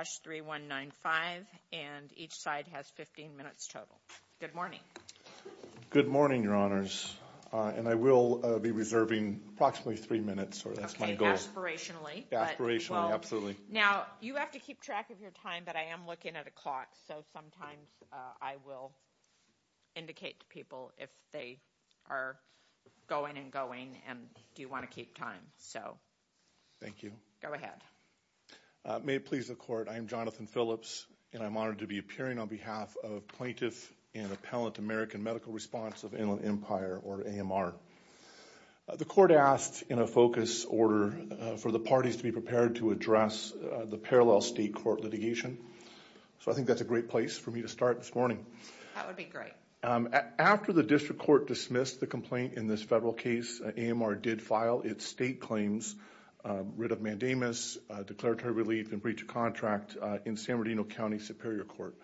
H3195 and each side has 15 minutes total. Good morning. Good morning, Your Honors. And I will be reserving approximately three minutes. Okay, aspirationally. Aspirationally, absolutely. Now, you have to keep track of your time, but I am looking at a clock. So sometimes I will indicate to people if they are going and going and do you want to keep time. Thank you. Go ahead. May it please the court, I am Jonathan Phillips and I am honored to be appearing on behalf of Plaintiff and Appellant American Medical Response of Inland Empire or AMR. The court asked in a focus order for the parties to be prepared to address the parallel state court litigation. So I think that is a great place for me to start this morning. That would be great. After the district court dismissed the complaint in this federal case, AMR did file its state claims, writ of mandamus, declaratory relief and breach of contract in San Bernardino County Superior Court.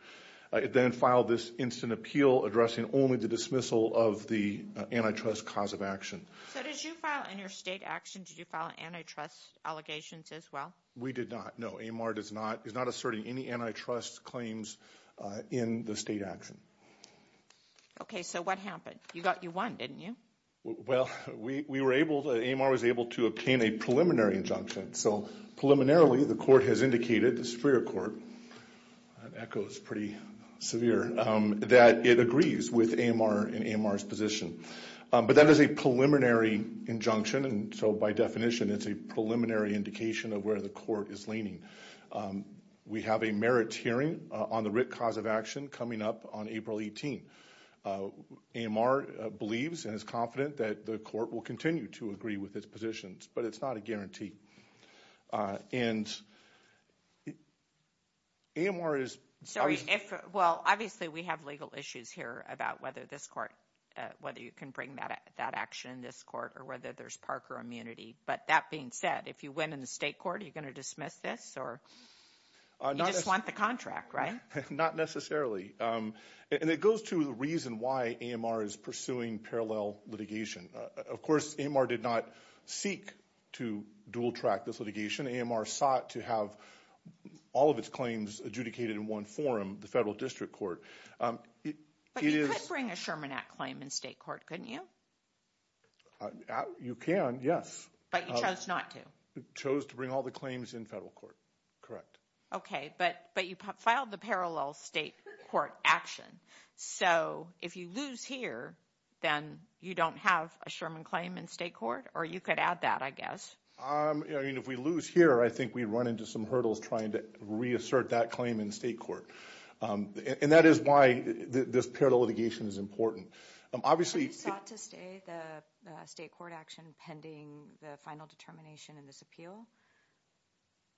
It then filed this instant appeal addressing only the dismissal of the antitrust cause of action. So did you file in your state action, did you file antitrust allegations as well? We did not, no. AMR is not asserting any antitrust claims in the state action. Okay, so what happened? You won, didn't you? Well, AMR was able to obtain a preliminary injunction. So preliminarily the court has indicated, the Superior Court, that it agrees with AMR and AMR's position. But that is a preliminary injunction and so by definition it's a preliminary indication of where the court is leaning. We have a merits hearing on the writ cause of action coming up on April 18. AMR believes and is confident that the court will continue to agree with its positions, but it's not a guarantee. And AMR is... Sorry, well, obviously we have legal issues here about whether this court, whether you can bring that action in this court or whether there's Parker immunity. But that being said, if you win in the state court, are you going to dismiss this or you just want the contract, right? Not necessarily. And it goes to the reason why AMR is pursuing parallel litigation. Of course, AMR did not seek to dual track this litigation. AMR sought to have all of its claims adjudicated in one forum, the federal district court. But you could bring a Sherman Act claim in state court, couldn't you? You can, yes. But you chose not to. Chose to bring all the claims in federal court, correct. Okay, but you filed the parallel state court action. So if you lose here, then you don't have a Sherman claim in state court? Or you could add that, I guess. I mean, if we lose here, I think we run into some hurdles trying to reassert that claim in state court. And that is why this parallel litigation is important. Obviously... Have you sought to stay the state court action pending the final determination in this appeal?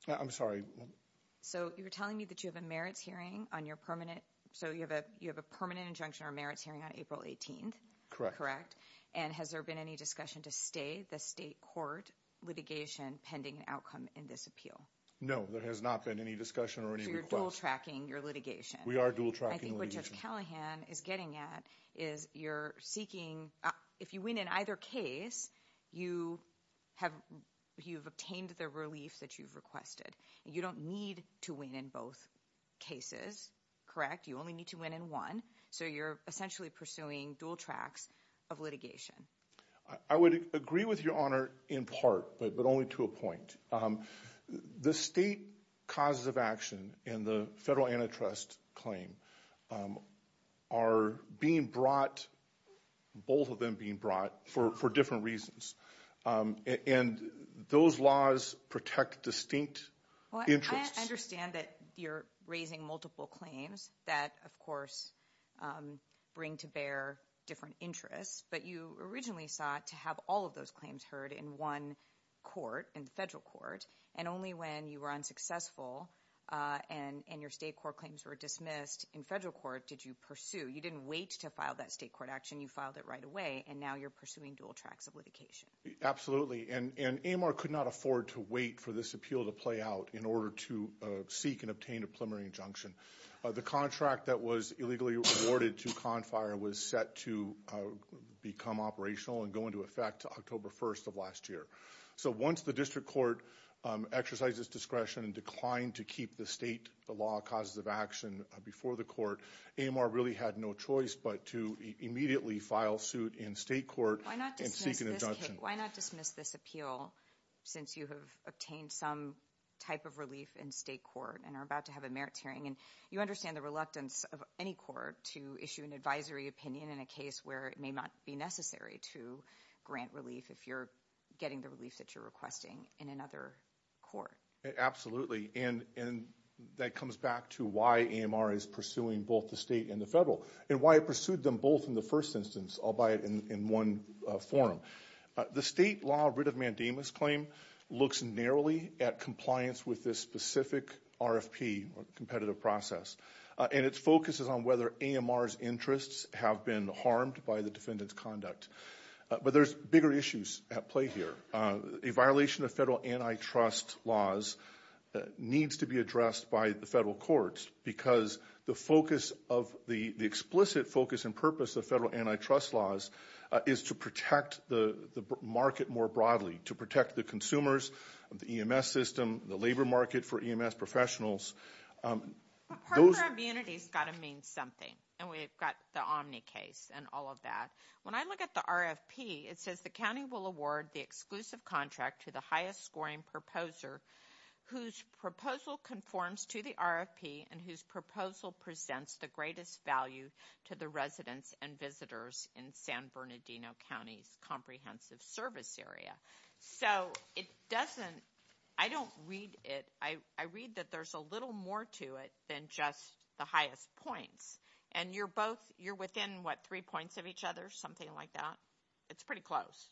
I'm sorry? So you're telling me that you have a merits hearing on your permanent... So you have a permanent injunction or merits hearing on April 18th? Correct. And has there been any discussion to stay the state court litigation pending an outcome in this appeal? No, there has not been any discussion or any request. So you're dual tracking your litigation? We are dual tracking the litigation. I think what Judge Callahan is getting at is you're seeking... If you win in either case, you have obtained the relief that you've requested. You don't need to win in both cases. Correct? You only need to win in one. So you're essentially pursuing dual tracks of litigation. I would agree with Your Honor in part, but only to a point. The state causes of action in the federal antitrust claim are being brought, both of them being brought, for different reasons. And those laws protect distinct interests. I understand that you're raising multiple claims that, of course, bring to bear different interests. But you originally sought to have all of those claims heard in one court, in the federal court. And only when you were unsuccessful and your state court claims were dismissed in federal court did you pursue. You didn't wait to file that state court action. You filed it right away. And now you're pursuing dual tracks of litigation. Absolutely. And AMR could not afford to wait for this appeal to play out in order to seek and obtain a preliminary injunction. The contract that was illegally awarded to CONFIRE was set to become operational and go into effect October 1st of last year. So once the district court exercised its discretion and declined to keep the state law causes of action before the court, AMR really had no choice but to immediately file suit in state court and seek an injunction. Why not dismiss this appeal since you have obtained some type of relief in state court and are about to have a merits hearing? And you understand the reluctance of any court to issue an advisory opinion in a case where it may not be necessary to grant relief if you're getting the relief that you're requesting in another court. Absolutely. And that comes back to why AMR is pursuing both the state and the federal and why it pursued them both in the first instance, albeit in one form. The state law writ of mandamus claim looks narrowly at compliance with this specific RFP or competitive process. And its focus is on whether AMR's interests have been harmed by the defendant's conduct. But there's bigger issues at play here. A violation of federal antitrust laws needs to be addressed by the federal courts because the explicit focus and purpose of federal antitrust laws is to protect the market more broadly, to protect the consumers, the EMS system, the labor market for EMS professionals. But partner immunity has got to mean something. And we've got the Omni case and all of that. When I look at the RFP, it says the county will award the exclusive contract to the highest scoring proposer whose proposal conforms to the RFP and whose proposal presents the greatest value to the residents and visitors in San Bernardino County's comprehensive service area. So it doesn't, I don't read it. I read that there's a little more to it than just the highest points. And you're both, you're within what, three points of each other, something like that? It's pretty close.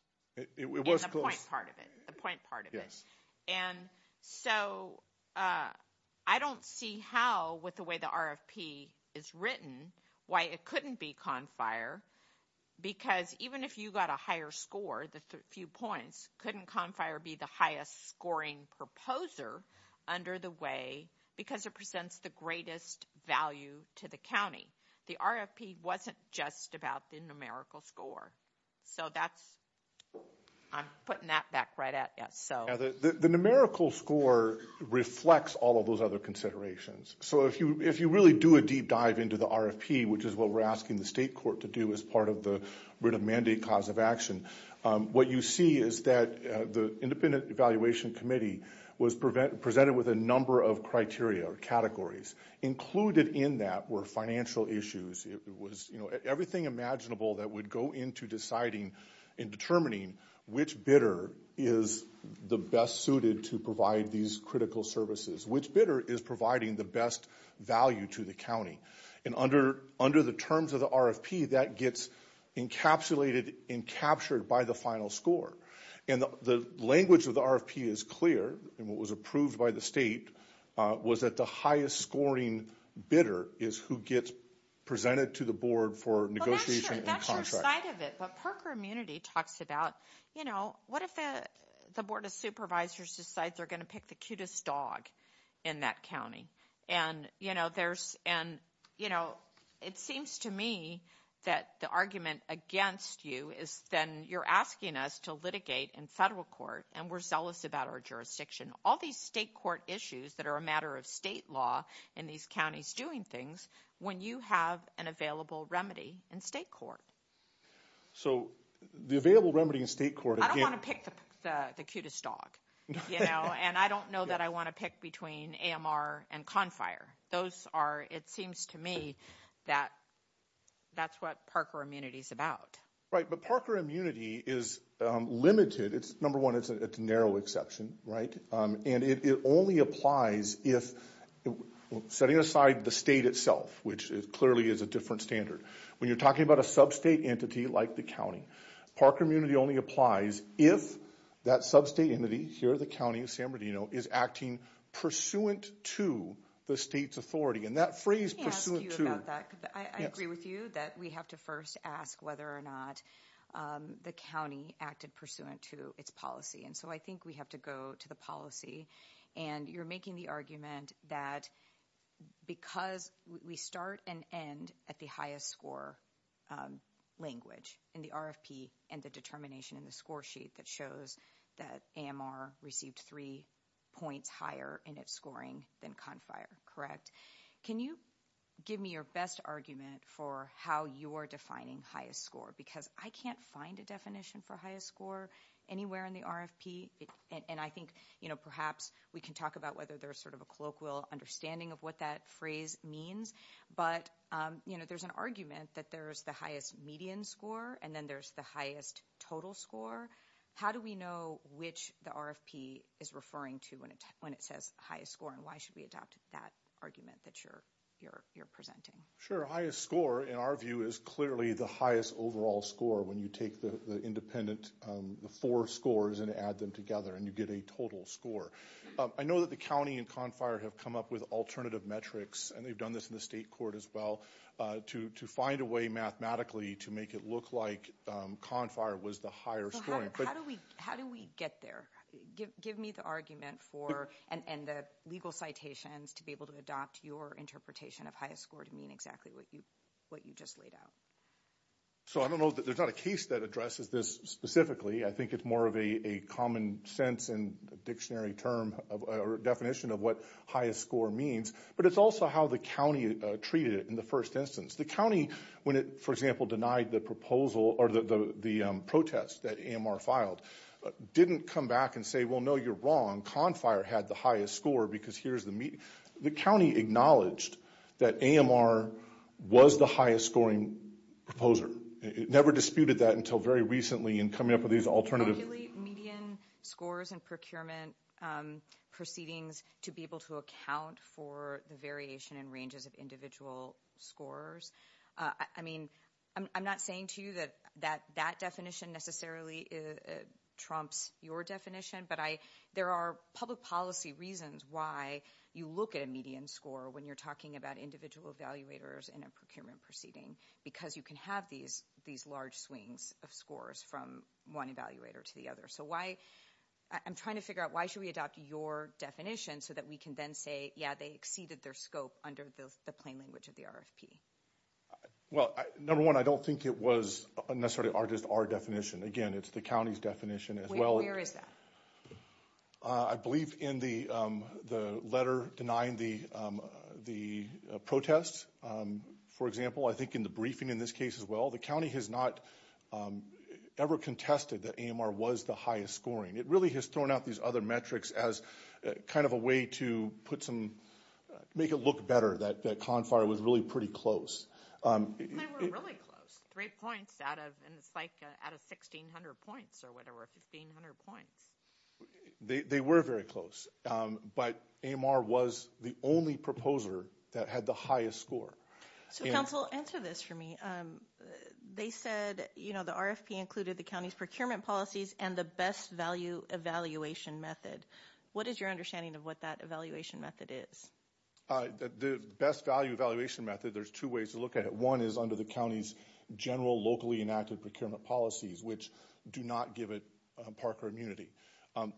It was close. And the point part of it. The point part of it. And so I don't see how, with the way the RFP is written, why it couldn't be CONFIRE because even if you got a higher score, the few points, couldn't CONFIRE be the highest scoring proposer under the way because it presents the greatest value to the county? The RFP wasn't just about the numerical score. So that's, I'm putting that back right at you. The numerical score reflects all of those other considerations. So if you really do a deep dive into the RFP, which is what we're asking the state court to do as part of the writ of mandate cause of action, what you see is that the independent evaluation committee was presented with a number of criteria or categories. Included in that were financial issues. It was, you know, everything imaginable that would go into deciding and determining which bidder is the best suited to provide these critical services. Which bidder is providing the best value to the county? And under the terms of the RFP, that gets encapsulated and captured by the final score. And the language of the RFP is clear. And what was approved by the state was that the highest scoring bidder is who gets presented to the board for negotiation and contract. That's your side of it. But Parker Immunity talks about, you know, what if the board of supervisors decides they're going to pick the cutest dog in that county? And, you know, there's, and, you know, it seems to me that the argument against you is then you're asking us to litigate in federal court and we're zealous about our jurisdiction. All these state court issues that are a matter of state law in these counties doing things, when you have an available remedy in state court. So the available remedy in state court. I don't want to pick the cutest dog. You know, and I don't know that I want to pick between AMR and Confire. Those are, it seems to me, that that's what Parker Immunity is about. Right, but Parker Immunity is limited. It's, number one, it's a narrow exception, right? And it only applies if, setting aside the state itself, which clearly is a different standard. When you're talking about a sub-state entity like the county, Parker Immunity only applies if that sub-state entity, here the county of San Bernardino, is acting pursuant to the state's authority. And that phrase, pursuant to. Let me ask you about that. I agree with you that we have to first ask whether or not the county acted pursuant to its policy. And so I think we have to go to the policy. And you're making the argument that because we start and end at the highest score language in the RFP and the determination in the score sheet that shows that AMR received three points higher in its scoring than Confire. Correct? Can you give me your best argument for how you're defining highest score? Because I can't find a definition for highest score anywhere in the RFP. And I think, you know, perhaps we can talk about whether there's sort of a colloquial understanding of what that phrase means. But, you know, there's an argument that there's the highest median score and then there's the highest total score. How do we know which the RFP is referring to when it says highest score? And why should we adopt that argument that you're presenting? Highest score, in our view, is clearly the highest overall score when you take the independent four scores and add them together and you get a total score. I know that the county and Confire have come up with alternative metrics, and they've done this in the state court as well, to find a way mathematically to make it look like Confire was the higher score. How do we get there? Give me the argument for and the legal citations to be able to adopt your interpretation of highest score to mean exactly what you just laid out. So I don't know that there's not a case that addresses this specifically. I think it's more of a common sense and dictionary term or definition of what highest score means. But it's also how the county treated it in the first instance. The county, when it, for example, denied the proposal or the protest that AMR filed, didn't come back and say, well, no, you're wrong. Confire had the highest score because here's the median. The county acknowledged that AMR was the highest scoring proposer. It never disputed that until very recently in coming up with these alternative- to be able to account for the variation in ranges of individual scores. I mean, I'm not saying to you that that definition necessarily trumps your definition, but there are public policy reasons why you look at a median score when you're talking about individual evaluators in a procurement proceeding, because you can have these large swings of scores from one evaluator to the other. I'm trying to figure out why should we adopt your definition so that we can then say, yeah, they exceeded their scope under the plain language of the RFP. Well, number one, I don't think it was necessarily just our definition. Again, it's the county's definition as well. Where is that? I believe in the letter denying the protest. For example, I think in the briefing in this case as well, the county has not ever contested that AMR was the highest scoring. It really has thrown out these other metrics as kind of a way to make it look better that CONFAR was really pretty close. They were really close, three points out of 1,600 points or whatever, 1,500 points. They were very close, but AMR was the only proposer that had the highest score. So, counsel, answer this for me. They said the RFP included the county's procurement policies and the best value evaluation method. What is your understanding of what that evaluation method is? The best value evaluation method, there's two ways to look at it. One is under the county's general locally enacted procurement policies, which do not give it Parker immunity.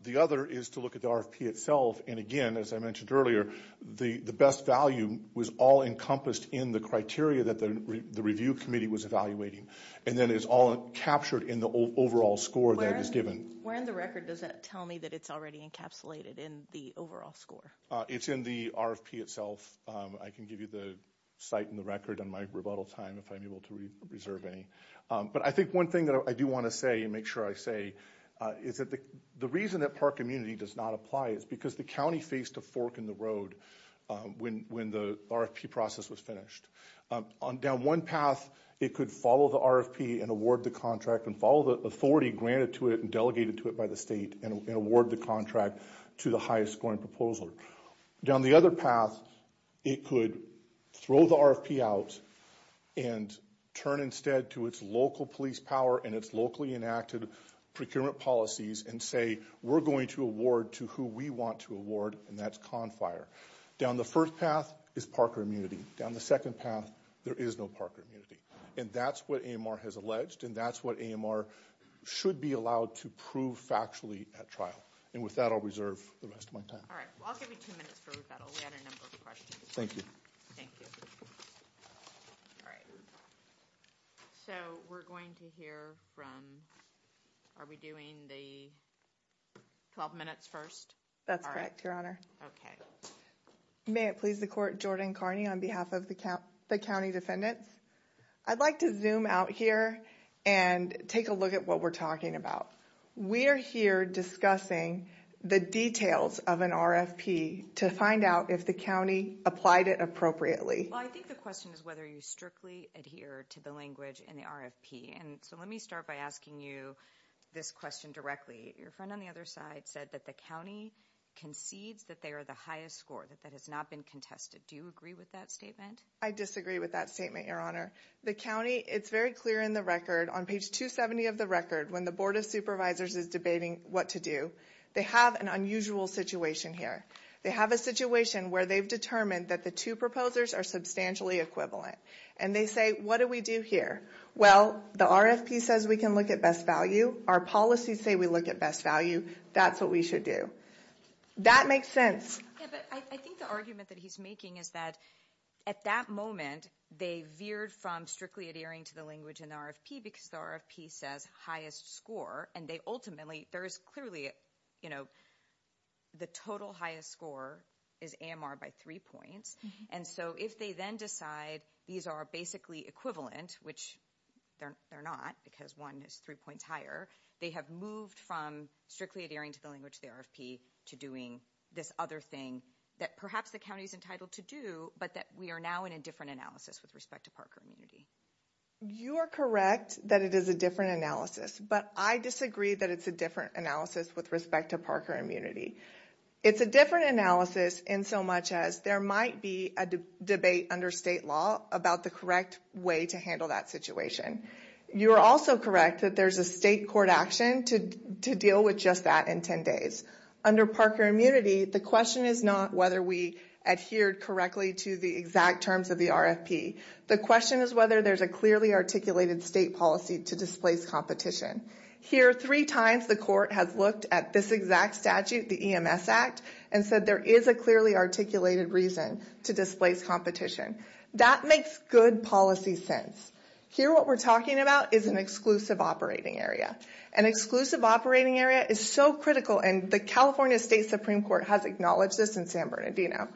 The other is to look at the RFP itself. And again, as I mentioned earlier, the best value was all encompassed in the criteria that the review committee was evaluating. And then it's all captured in the overall score that is given. Where in the record does that tell me that it's already encapsulated in the overall score? It's in the RFP itself. I can give you the site and the record on my rebuttal time if I'm able to reserve any. But I think one thing that I do want to say and make sure I say is that the reason that Parker immunity does not apply is because the county faced a fork in the road when the RFP process was finished. On down one path, it could follow the RFP and award the contract and follow the authority granted to it and delegated to it by the state and award the contract to the highest scoring proposal. On the other path, it could throw the RFP out and turn instead to its local police power and its locally enacted procurement policies and say, we're going to award to who we want to award, and that's Confire. Down the first path is Parker immunity. Down the second path, there is no Parker immunity. And that's what AMR has alleged and that's what AMR should be allowed to prove factually at trial. And with that, I'll reserve the rest of my time. All right, well, I'll give you two minutes for rebuttal. We had a number of questions. Thank you. Thank you. All right. So we're going to hear from are we doing the 12 minutes first? That's correct, Your Honor. OK. May it please the court. Jordan Carney on behalf of the county, the county defendants. I'd like to zoom out here and take a look at what we're talking about. We are here discussing the details of an RFP to find out if the county applied it appropriately. Well, I think the question is whether you strictly adhere to the language in the RFP. And so let me start by asking you this question directly. Your friend on the other side said that the county concedes that they are the highest score, that that has not been contested. Do you agree with that statement? I disagree with that statement, Your Honor. The county, it's very clear in the record, on page 270 of the record, when the Board of Supervisors is debating what to do, they have an unusual situation here. They have a situation where they've determined that the two proposers are substantially equivalent. And they say, what do we do here? Well, the RFP says we can look at best value. Our policies say we look at best value. That's what we should do. That makes sense. Yeah, but I think the argument that he's making is that at that moment, they veered from strictly adhering to the language in the RFP because the RFP says highest score. And they ultimately, there is clearly, you know, the total highest score is AMR by three points. And so if they then decide these are basically equivalent, which they're not because one is three points higher, they have moved from strictly adhering to the language of the RFP to doing this other thing that perhaps the county is entitled to do, but that we are now in a different analysis with respect to Parker Immunity. You are correct that it is a different analysis. But I disagree that it's a different analysis with respect to Parker Immunity. It's a different analysis in so much as there might be a debate under state law about the correct way to handle that situation. You are also correct that there's a state court action to deal with just that in 10 days. Under Parker Immunity, the question is not whether we adhered correctly to the exact terms of the RFP. The question is whether there's a clearly articulated state policy to displace competition. Here three times the court has looked at this exact statute, the EMS Act, and said there is a clearly articulated reason to displace competition. That makes good policy sense. Here what we're talking about is an exclusive operating area. An exclusive operating area is so critical, and the California State Supreme Court has acknowledged this in San Bernardino.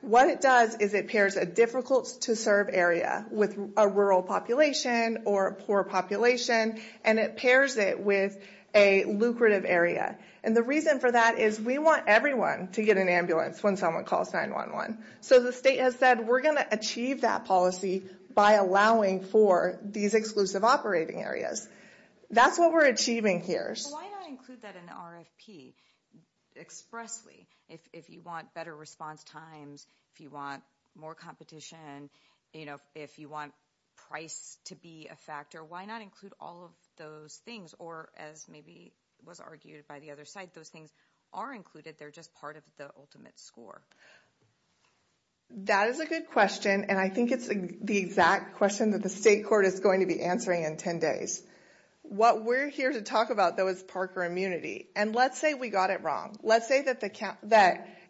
What it does is it pairs a difficult to serve area with a rural population or a poor population, and it pairs it with a lucrative area. And the reason for that is we want everyone to get an ambulance when someone calls 911. So the state has said we're going to achieve that policy by allowing for these exclusive operating areas. That's what we're achieving here. Why not include that in the RFP expressly? If you want better response times, if you want more competition, if you want price to be a factor, why not include all of those things? Or as maybe was argued by the other side, those things are included. They're just part of the ultimate score. That is a good question, and I think it's the exact question that the state court is going to be answering in 10 days. What we're here to talk about, though, is Parker immunity. And let's say we got it wrong. Let's say that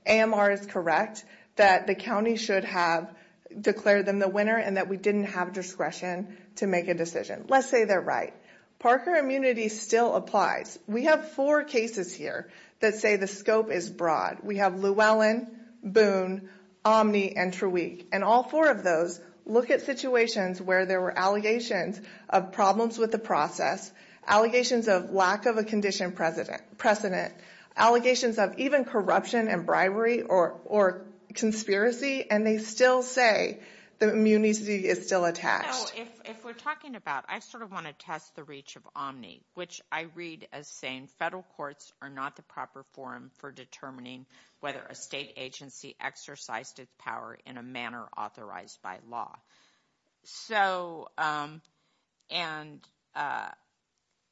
AMR is correct, that the county should have declared them the winner, and that we didn't have discretion to make a decision. Let's say they're right. Parker immunity still applies. We have four cases here that say the scope is broad. We have Llewellyn, Boone, Omni, and Trueweek. And all four of those look at situations where there were allegations of problems with the process, allegations of lack of a condition precedent, allegations of even corruption and bribery or conspiracy, and they still say the immunity is still attached. You know, if we're talking about ‑‑ I sort of want to test the reach of Omni, which I read as saying federal courts are not the proper forum for determining whether a state agency exercised its power in a manner authorized by law.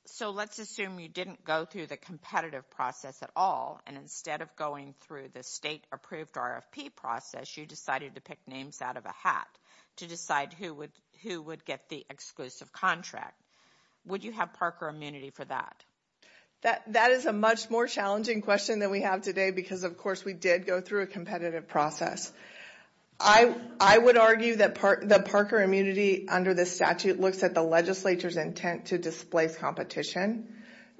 So let's assume you didn't go through the competitive process at all, and instead of going through the state‑approved RFP process, you decided to pick names out of a hat to decide who would get the exclusive contract. Would you have Parker immunity for that? That is a much more challenging question than we have today because, of course, we did go through a competitive process. I would argue that Parker immunity under the statute looks at the legislature's intent to displace competition,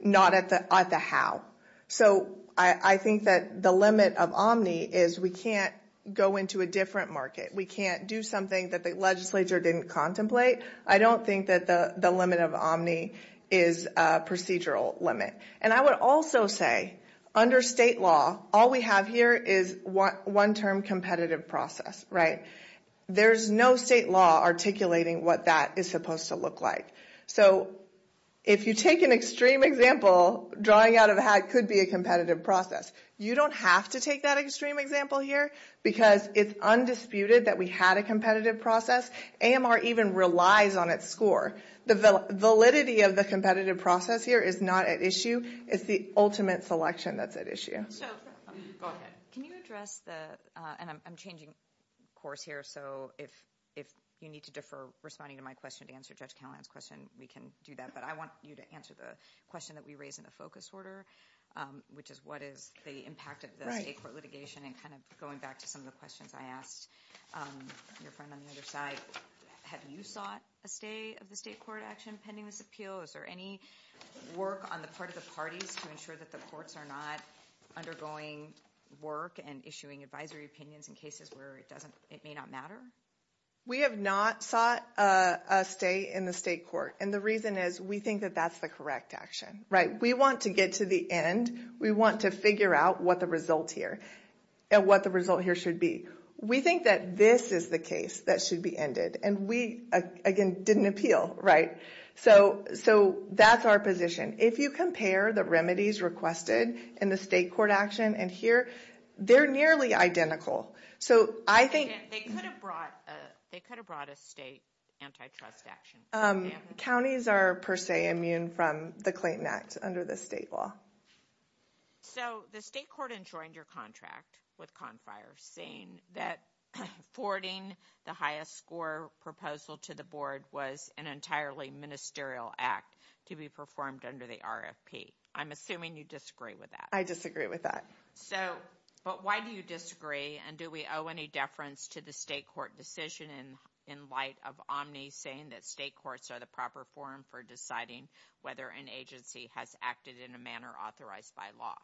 not at the how. So I think that the limit of Omni is we can't go into a different market. We can't do something that the legislature didn't contemplate. I don't think that the limit of Omni is a procedural limit. And I would also say under state law, all we have here is one‑term competitive process, right? There's no state law articulating what that is supposed to look like. So if you take an extreme example, drawing out of a hat could be a competitive process. You don't have to take that extreme example here because it's undisputed that we had a competitive process. AMR even relies on its score. The validity of the competitive process here is not at issue. It's the ultimate selection that's at issue. Go ahead. Can you address the ‑‑ and I'm changing course here. So if you need to defer responding to my question to answer Judge Callahan's question, we can do that. But I want you to answer the question that we raised in the focus order, which is what is the impact of the state court litigation. And kind of going back to some of the questions I asked your friend on the other side, have you sought a stay of the state court action pending this appeal? Is there any work on the part of the parties to ensure that the courts are not undergoing work and issuing advisory opinions in cases where it may not matter? We have not sought a stay in the state court. And the reason is we think that that's the correct action, right? We want to get to the end. We want to figure out what the result here and what the result here should be. We think that this is the case that should be ended. And we, again, didn't appeal, right? So that's our position. If you compare the remedies requested in the state court action and here, they're nearly identical. So I think ‑‑ They could have brought a state antitrust action. Counties are, per se, immune from the Clayton Act under the state law. So the state court enjoined your contract with Confire, saying that forwarding the highest score proposal to the board was an entirely ministerial act to be performed under the RFP. I'm assuming you disagree with that. I disagree with that. But why do you disagree? And do we owe any deference to the state court decision in light of Omni saying that state courts are the proper forum for deciding whether an agency has acted in a manner authorized by law?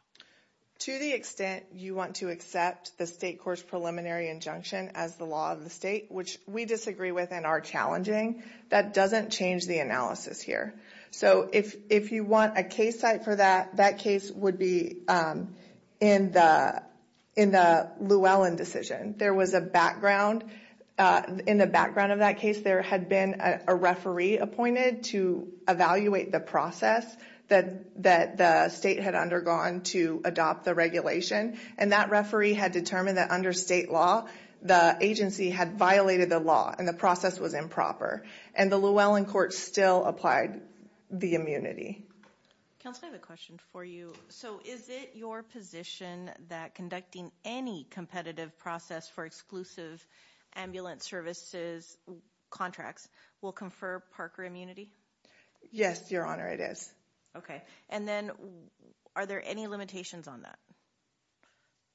To the extent you want to accept the state court's preliminary injunction as the law of the state, which we disagree with and are challenging, that doesn't change the analysis here. So if you want a case type for that, that case would be in the Llewellyn decision. There was a background. In the background of that case, there had been a referee appointed to evaluate the process that the state had undergone to adopt the regulation, and that referee had determined that under state law the agency had violated the law and the process was improper. And the Llewellyn court still applied the immunity. Counsel, I have a question for you. So is it your position that conducting any competitive process for exclusive ambulance services contracts will confer Parker immunity? Yes, Your Honor, it is. Okay. And then are there any limitations on that?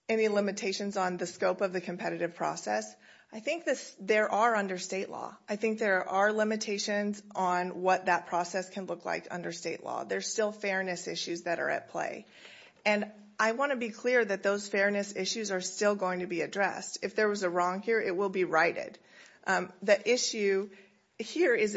Any limitations on the scope of the competitive process? I think there are under state law. I think there are limitations on what that process can look like under state law. There's still fairness issues that are at play. And I want to be clear that those fairness issues are still going to be addressed. If there was a wrong here, it will be righted. The issue here is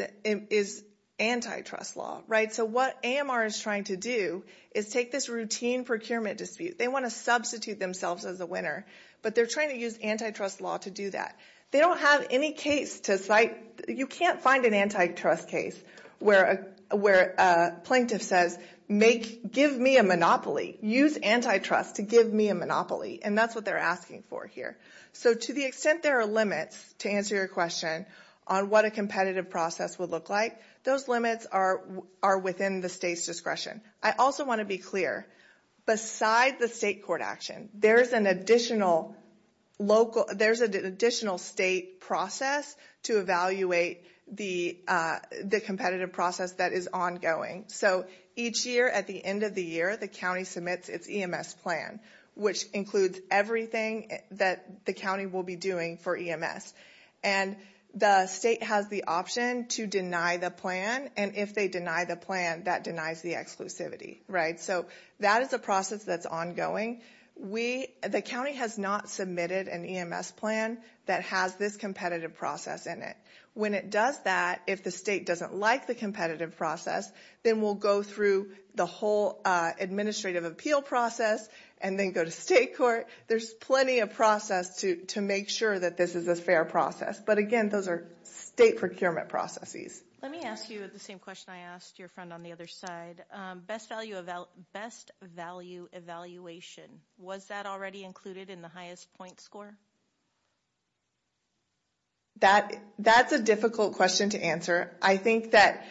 antitrust law, right? So what AMR is trying to do is take this routine procurement dispute. They want to substitute themselves as a winner, but they're trying to use antitrust law to do that. They don't have any case to cite. You can't find an antitrust case where a plaintiff says, give me a monopoly. Use antitrust to give me a monopoly. And that's what they're asking for here. So to the extent there are limits, to answer your question, on what a competitive process would look like, those limits are within the state's discretion. I also want to be clear. Beside the state court action, there's an additional state process to evaluate the competitive process that is ongoing. So each year at the end of the year, the county submits its EMS plan, which includes everything that the county will be doing for EMS. And the state has the option to deny the plan. And if they deny the plan, that denies the exclusivity, right? So that is a process that's ongoing. The county has not submitted an EMS plan that has this competitive process in it. When it does that, if the state doesn't like the competitive process, then we'll go through the whole administrative appeal process and then go to state court. There's plenty of process to make sure that this is a fair process. But again, those are state procurement processes. Let me ask you the same question I asked your friend on the other side. Best value evaluation. Was that already included in the highest point score? That's a difficult question to answer. I think that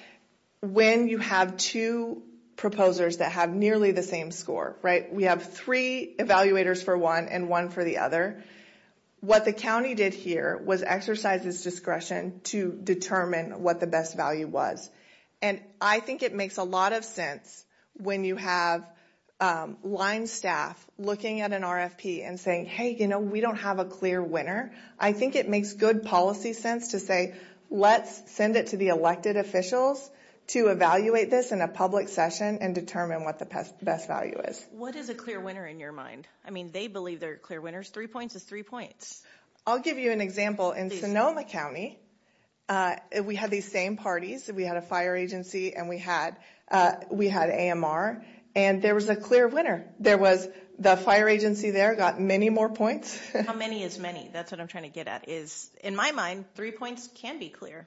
when you have two proposers that have nearly the same score, right? We have three evaluators for one and one for the other. What the county did here was exercise its discretion to determine what the best value was. And I think it makes a lot of sense when you have line staff looking at an RFP and saying, hey, you know, we don't have a clear winner. I think it makes good policy sense to say let's send it to the elected officials to evaluate this in a public session and determine what the best value is. What is a clear winner in your mind? I mean, they believe they're clear winners. Three points is three points. I'll give you an example. In Sonoma County, we had these same parties. We had a fire agency and we had AMR. And there was a clear winner. There was the fire agency there got many more points. How many is many? That's what I'm trying to get at is in my mind, three points can be clear.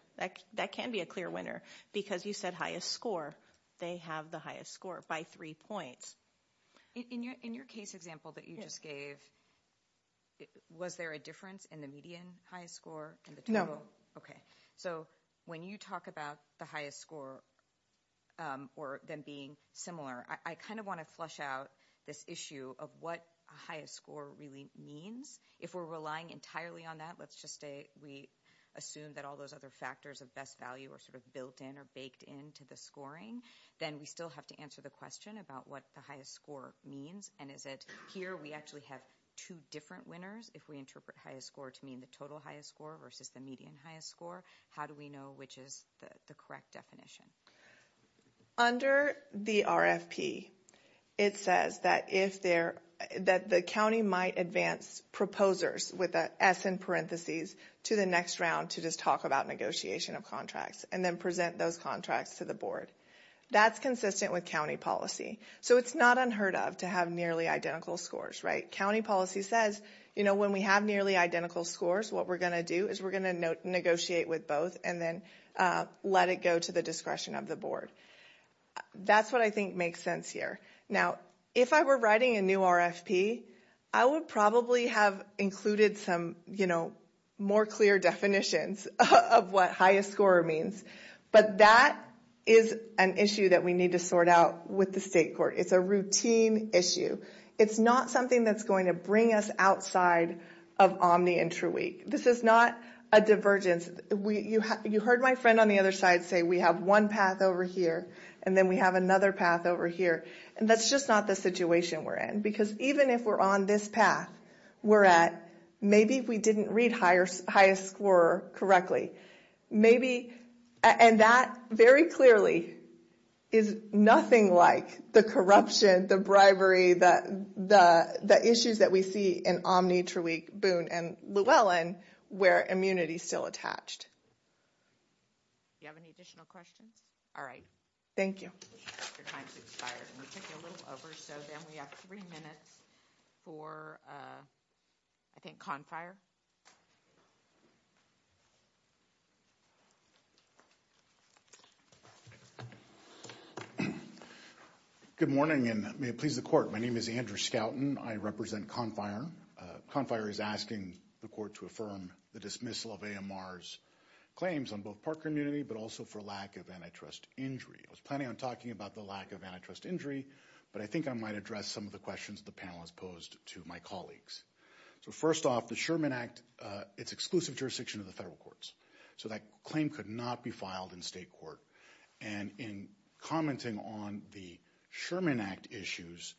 That can be a clear winner because you said highest score. They have the highest score by three points. In your case example that you just gave, was there a difference in the median highest score? Okay. So when you talk about the highest score or them being similar, I kind of want to flush out this issue of what a highest score really means. If we're relying entirely on that, let's just say we assume that all those other factors of best value are sort of built in or baked into the scoring, then we still have to answer the question about what the highest score means. And is it here we actually have two different winners? If we interpret highest score to mean the total highest score versus the median highest score, how do we know which is the correct definition? Under the RFP, it says that the county might advance proposers with an S in parentheses to the next round to just talk about negotiation of contracts and then present those contracts to the board. That's consistent with county policy. So it's not unheard of to have nearly identical scores, right? County policy says when we have nearly identical scores, what we're going to do is we're going to negotiate with both and then let it go to the discretion of the board. That's what I think makes sense here. Now, if I were writing a new RFP, I would probably have included some more clear definitions of what highest score means. But that is an issue that we need to sort out with the state court. It's a routine issue. It's not something that's going to bring us outside of Omni and TrueWeek. This is not a divergence. You heard my friend on the other side say we have one path over here and then we have another path over here. And that's just not the situation we're in. Because even if we're on this path, we're at maybe we didn't read highest score correctly. And that very clearly is nothing like the corruption, the bribery, the issues that we see in Omni, TrueWeek, Boone, and Llewellyn where immunity is still attached. Do you have any additional questions? All right. Thank you. Your time has expired. We took a little over. So then we have three minutes for, I think, Confire. Good morning, and may it please the court. My name is Andrew Skouten. I represent Confire. Confire is asking the court to affirm the dismissal of AMR's claims on both park immunity but also for lack of antitrust injury. I was planning on talking about the lack of antitrust injury, but I think I might address some of the questions the panel has posed to my colleagues. So first off, the Sherman Act, it's exclusive jurisdiction of the federal courts. So that claim could not be filed in state court. And in commenting on the Sherman Act issues,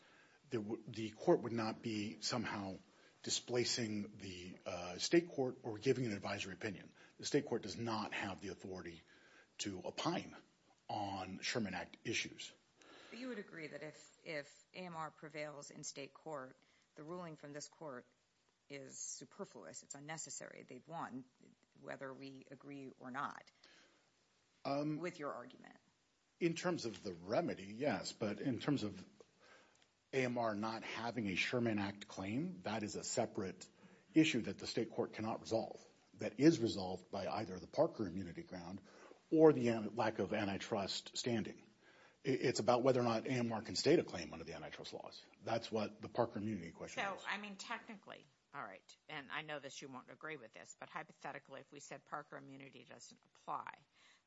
the court would not be somehow displacing the state court or giving an advisory opinion. The state court does not have the authority to opine on Sherman Act issues. You would agree that if AMR prevails in state court, the ruling from this court is superfluous. It's unnecessary. They've won whether we agree or not with your argument. In terms of the remedy, yes. But in terms of AMR not having a Sherman Act claim, that is a separate issue that the state court cannot resolve that is resolved by either the Parker immunity ground or the lack of antitrust standing. It's about whether or not AMR can state a claim under the antitrust laws. That's what the Parker immunity question is. So, I mean, technically, all right, and I know that you won't agree with this, but hypothetically if we said Parker immunity doesn't apply,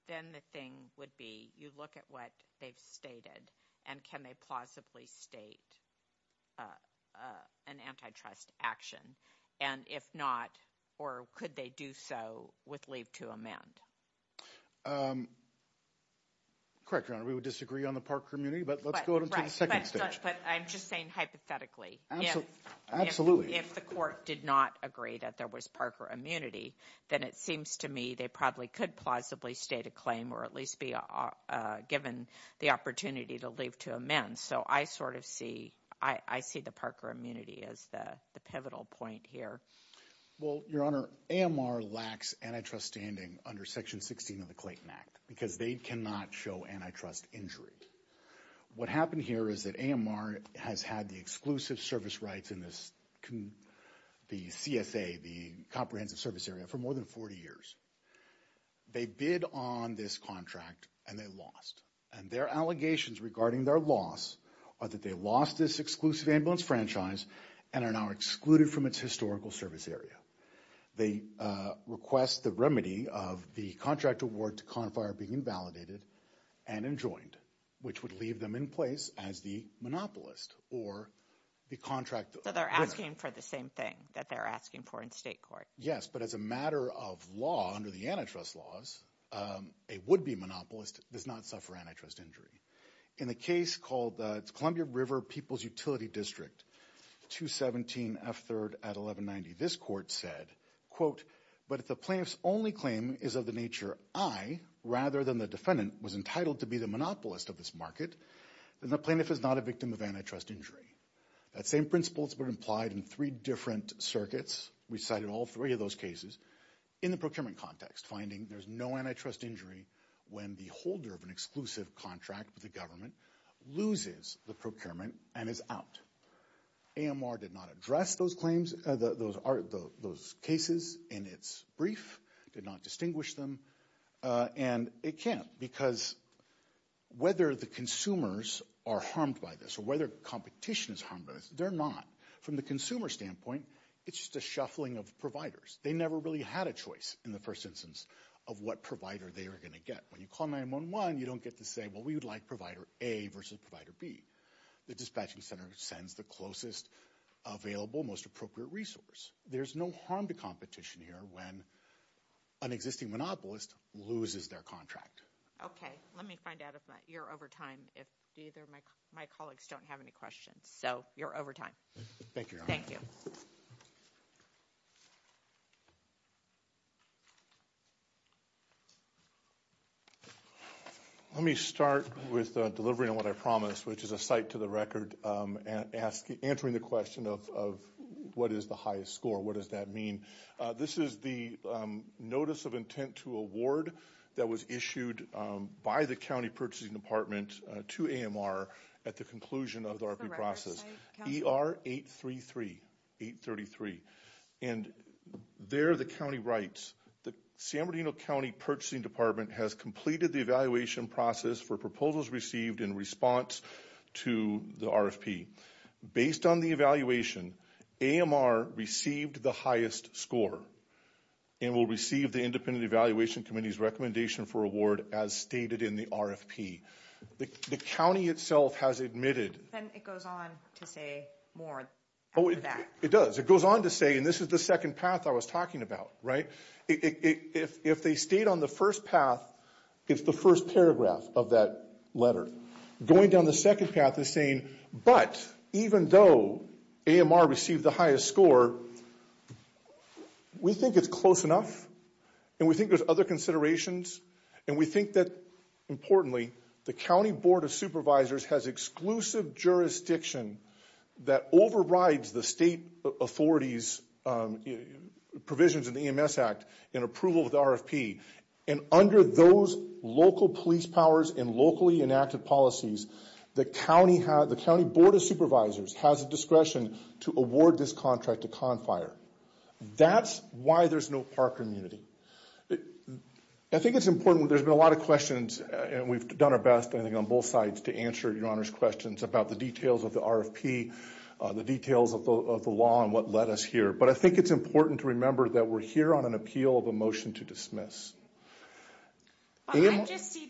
then the thing would be you look at what they've stated and can they plausibly state an antitrust action? And if not, or could they do so with leave to amend? Correct, Your Honor, we would disagree on the Parker immunity, but let's go to the second stage. But I'm just saying hypothetically. Absolutely. If the court did not agree that there was Parker immunity, then it seems to me they probably could plausibly state a claim or at least be given the opportunity to leave to amend. So I sort of see, I see the Parker immunity as the pivotal point here. Well, Your Honor, AMR lacks antitrust standing under Section 16 of the Clayton Act because they cannot show antitrust injury. What happened here is that AMR has had the exclusive service rights in the CSA, the comprehensive service area, for more than 40 years. They bid on this contract and they lost. And their allegations regarding their loss are that they lost this exclusive ambulance franchise and are now excluded from its historical service area. They request the remedy of the contract award to confire being invalidated and enjoined, which would leave them in place as the monopolist or the contract. So they're asking for the same thing that they're asking for in state court. Yes, but as a matter of law, under the antitrust laws, a would-be monopolist does not suffer antitrust injury. In a case called the Columbia River People's Utility District, 217F3rd at 1190, this court said, quote, but if the plaintiff's only claim is of the nature, I, rather than the defendant, was entitled to be the monopolist of this market, then the plaintiff is not a victim of antitrust injury. That same principle has been implied in three different circuits. We cited all three of those cases in the procurement context, finding there's no antitrust injury when the holder of an exclusive contract with the government loses the procurement and is out. AMR did not address those cases in its brief, did not distinguish them, and it can't, because whether the consumers are harmed by this or whether competition is harmed by this, they're not. From the consumer standpoint, it's just a shuffling of providers. They never really had a choice in the first instance of what provider they were going to get. When you call 911, you don't get to say, well, we would like provider A versus provider B. The dispatching center sends the closest available, most appropriate resource. There's no harm to competition here when an existing monopolist loses their contract. Okay, let me find out if you're over time, if either of my colleagues don't have any questions. So you're over time. Thank you, Your Honor. Thank you. Let me start with delivering on what I promised, which is a cite to the record, answering the question of what is the highest score, what does that mean. This is the notice of intent to award that was issued by the County Purchasing Department to AMR at the conclusion of the RFP process. ER 833, 833. And there the county writes, the San Bernardino County Purchasing Department has completed the evaluation process for proposals received in response to the RFP. Based on the evaluation, AMR received the highest score and will receive the Independent Evaluation Committee's recommendation for award as stated in the RFP. The county itself has admitted. Then it goes on to say more after that. It does. It goes on to say, and this is the second path I was talking about, right? If they stayed on the first path, it's the first paragraph of that letter. Going down the second path is saying, but even though AMR received the highest score, we think it's close enough and we think there's other considerations and we think that, importantly, the County Board of Supervisors has exclusive jurisdiction that overrides the state authorities' provisions in the EMS Act and approval of the RFP. And under those local police powers and locally enacted policies, the County Board of Supervisors has the discretion to award this contract to CONFIRE. That's why there's no park immunity. I think it's important. There's been a lot of questions and we've done our best, I think, on both sides to answer Your Honor's questions about the details of the RFP, the details of the law and what led us here. But I think it's important to remember that we're here on an appeal of a motion to dismiss. I see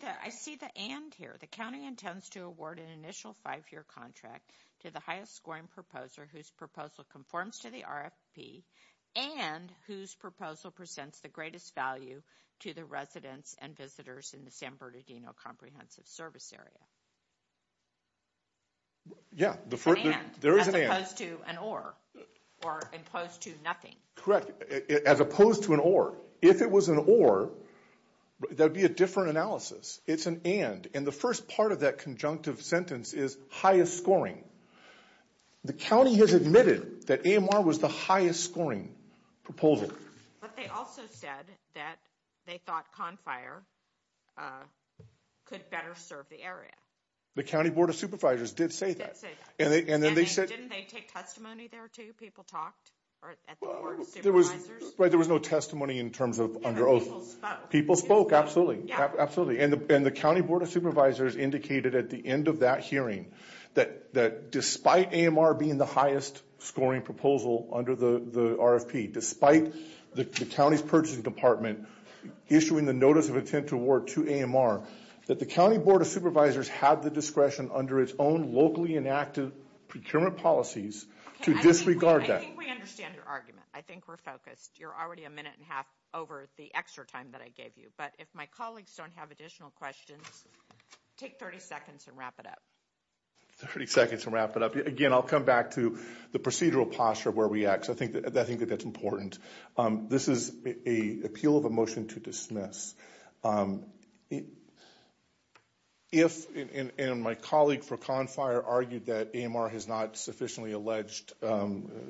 the and here. The county intends to award an initial five-year contract to the highest scoring proposer whose proposal conforms to the RFP and whose proposal presents the greatest value to the residents and visitors in the San Bernardino Comprehensive Service Area. There is an and. As opposed to an or. Or opposed to nothing. Correct. As opposed to an or. If it was an or, there would be a different analysis. It's an and. And the first part of that conjunctive sentence is highest scoring. The county has admitted that AMR was the highest scoring proposal. But they also said that they thought CONFIRE could better serve the area. The County Board of Supervisors did say that. Didn't they take testimony there too? People talked at the Board of Supervisors? There was no testimony in terms of under oath. People spoke. People spoke, absolutely. And the County Board of Supervisors indicated at the end of that hearing that despite AMR being the highest scoring proposal under the RFP, despite the county's purchasing department issuing the Notice of Intent to Award to AMR, that the County Board of Supervisors had the discretion under its own locally enacted procurement policies to disregard that. I think we understand your argument. I think we're focused. You're already a minute and a half over the extra time that I gave you. But if my colleagues don't have additional questions, take 30 seconds and wrap it up. 30 seconds and wrap it up. Again, I'll come back to the procedural posture of where we act. I think that that's important. This is an appeal of a motion to dismiss. If, and my colleague for Confire argued that AMR has not sufficiently alleged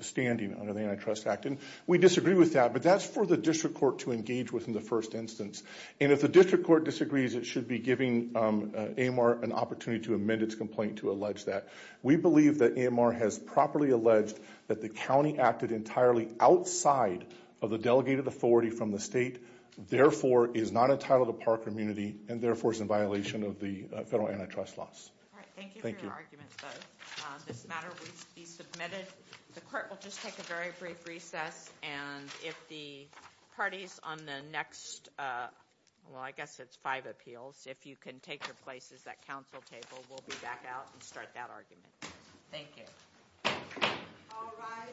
standing under the Antitrust Act, and we disagree with that, but that's for the District Court to engage with in the first instance. And if the District Court disagrees, it should be giving AMR an opportunity to amend its complaint to allege that. We believe that AMR has properly alleged that the county acted entirely outside of the delegated authority from the state, therefore is not entitled to park immunity, and therefore is in violation of the federal antitrust laws. Thank you. Thank you for your argument, both. This matter will be submitted. The court will just take a very brief recess. And if the parties on the next, well, I guess it's five appeals, if you can take your places at council table, we'll be back out and start that argument. Thank you. All rise.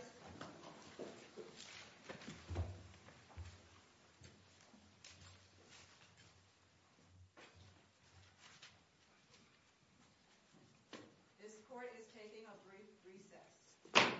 This court is taking a brief recess.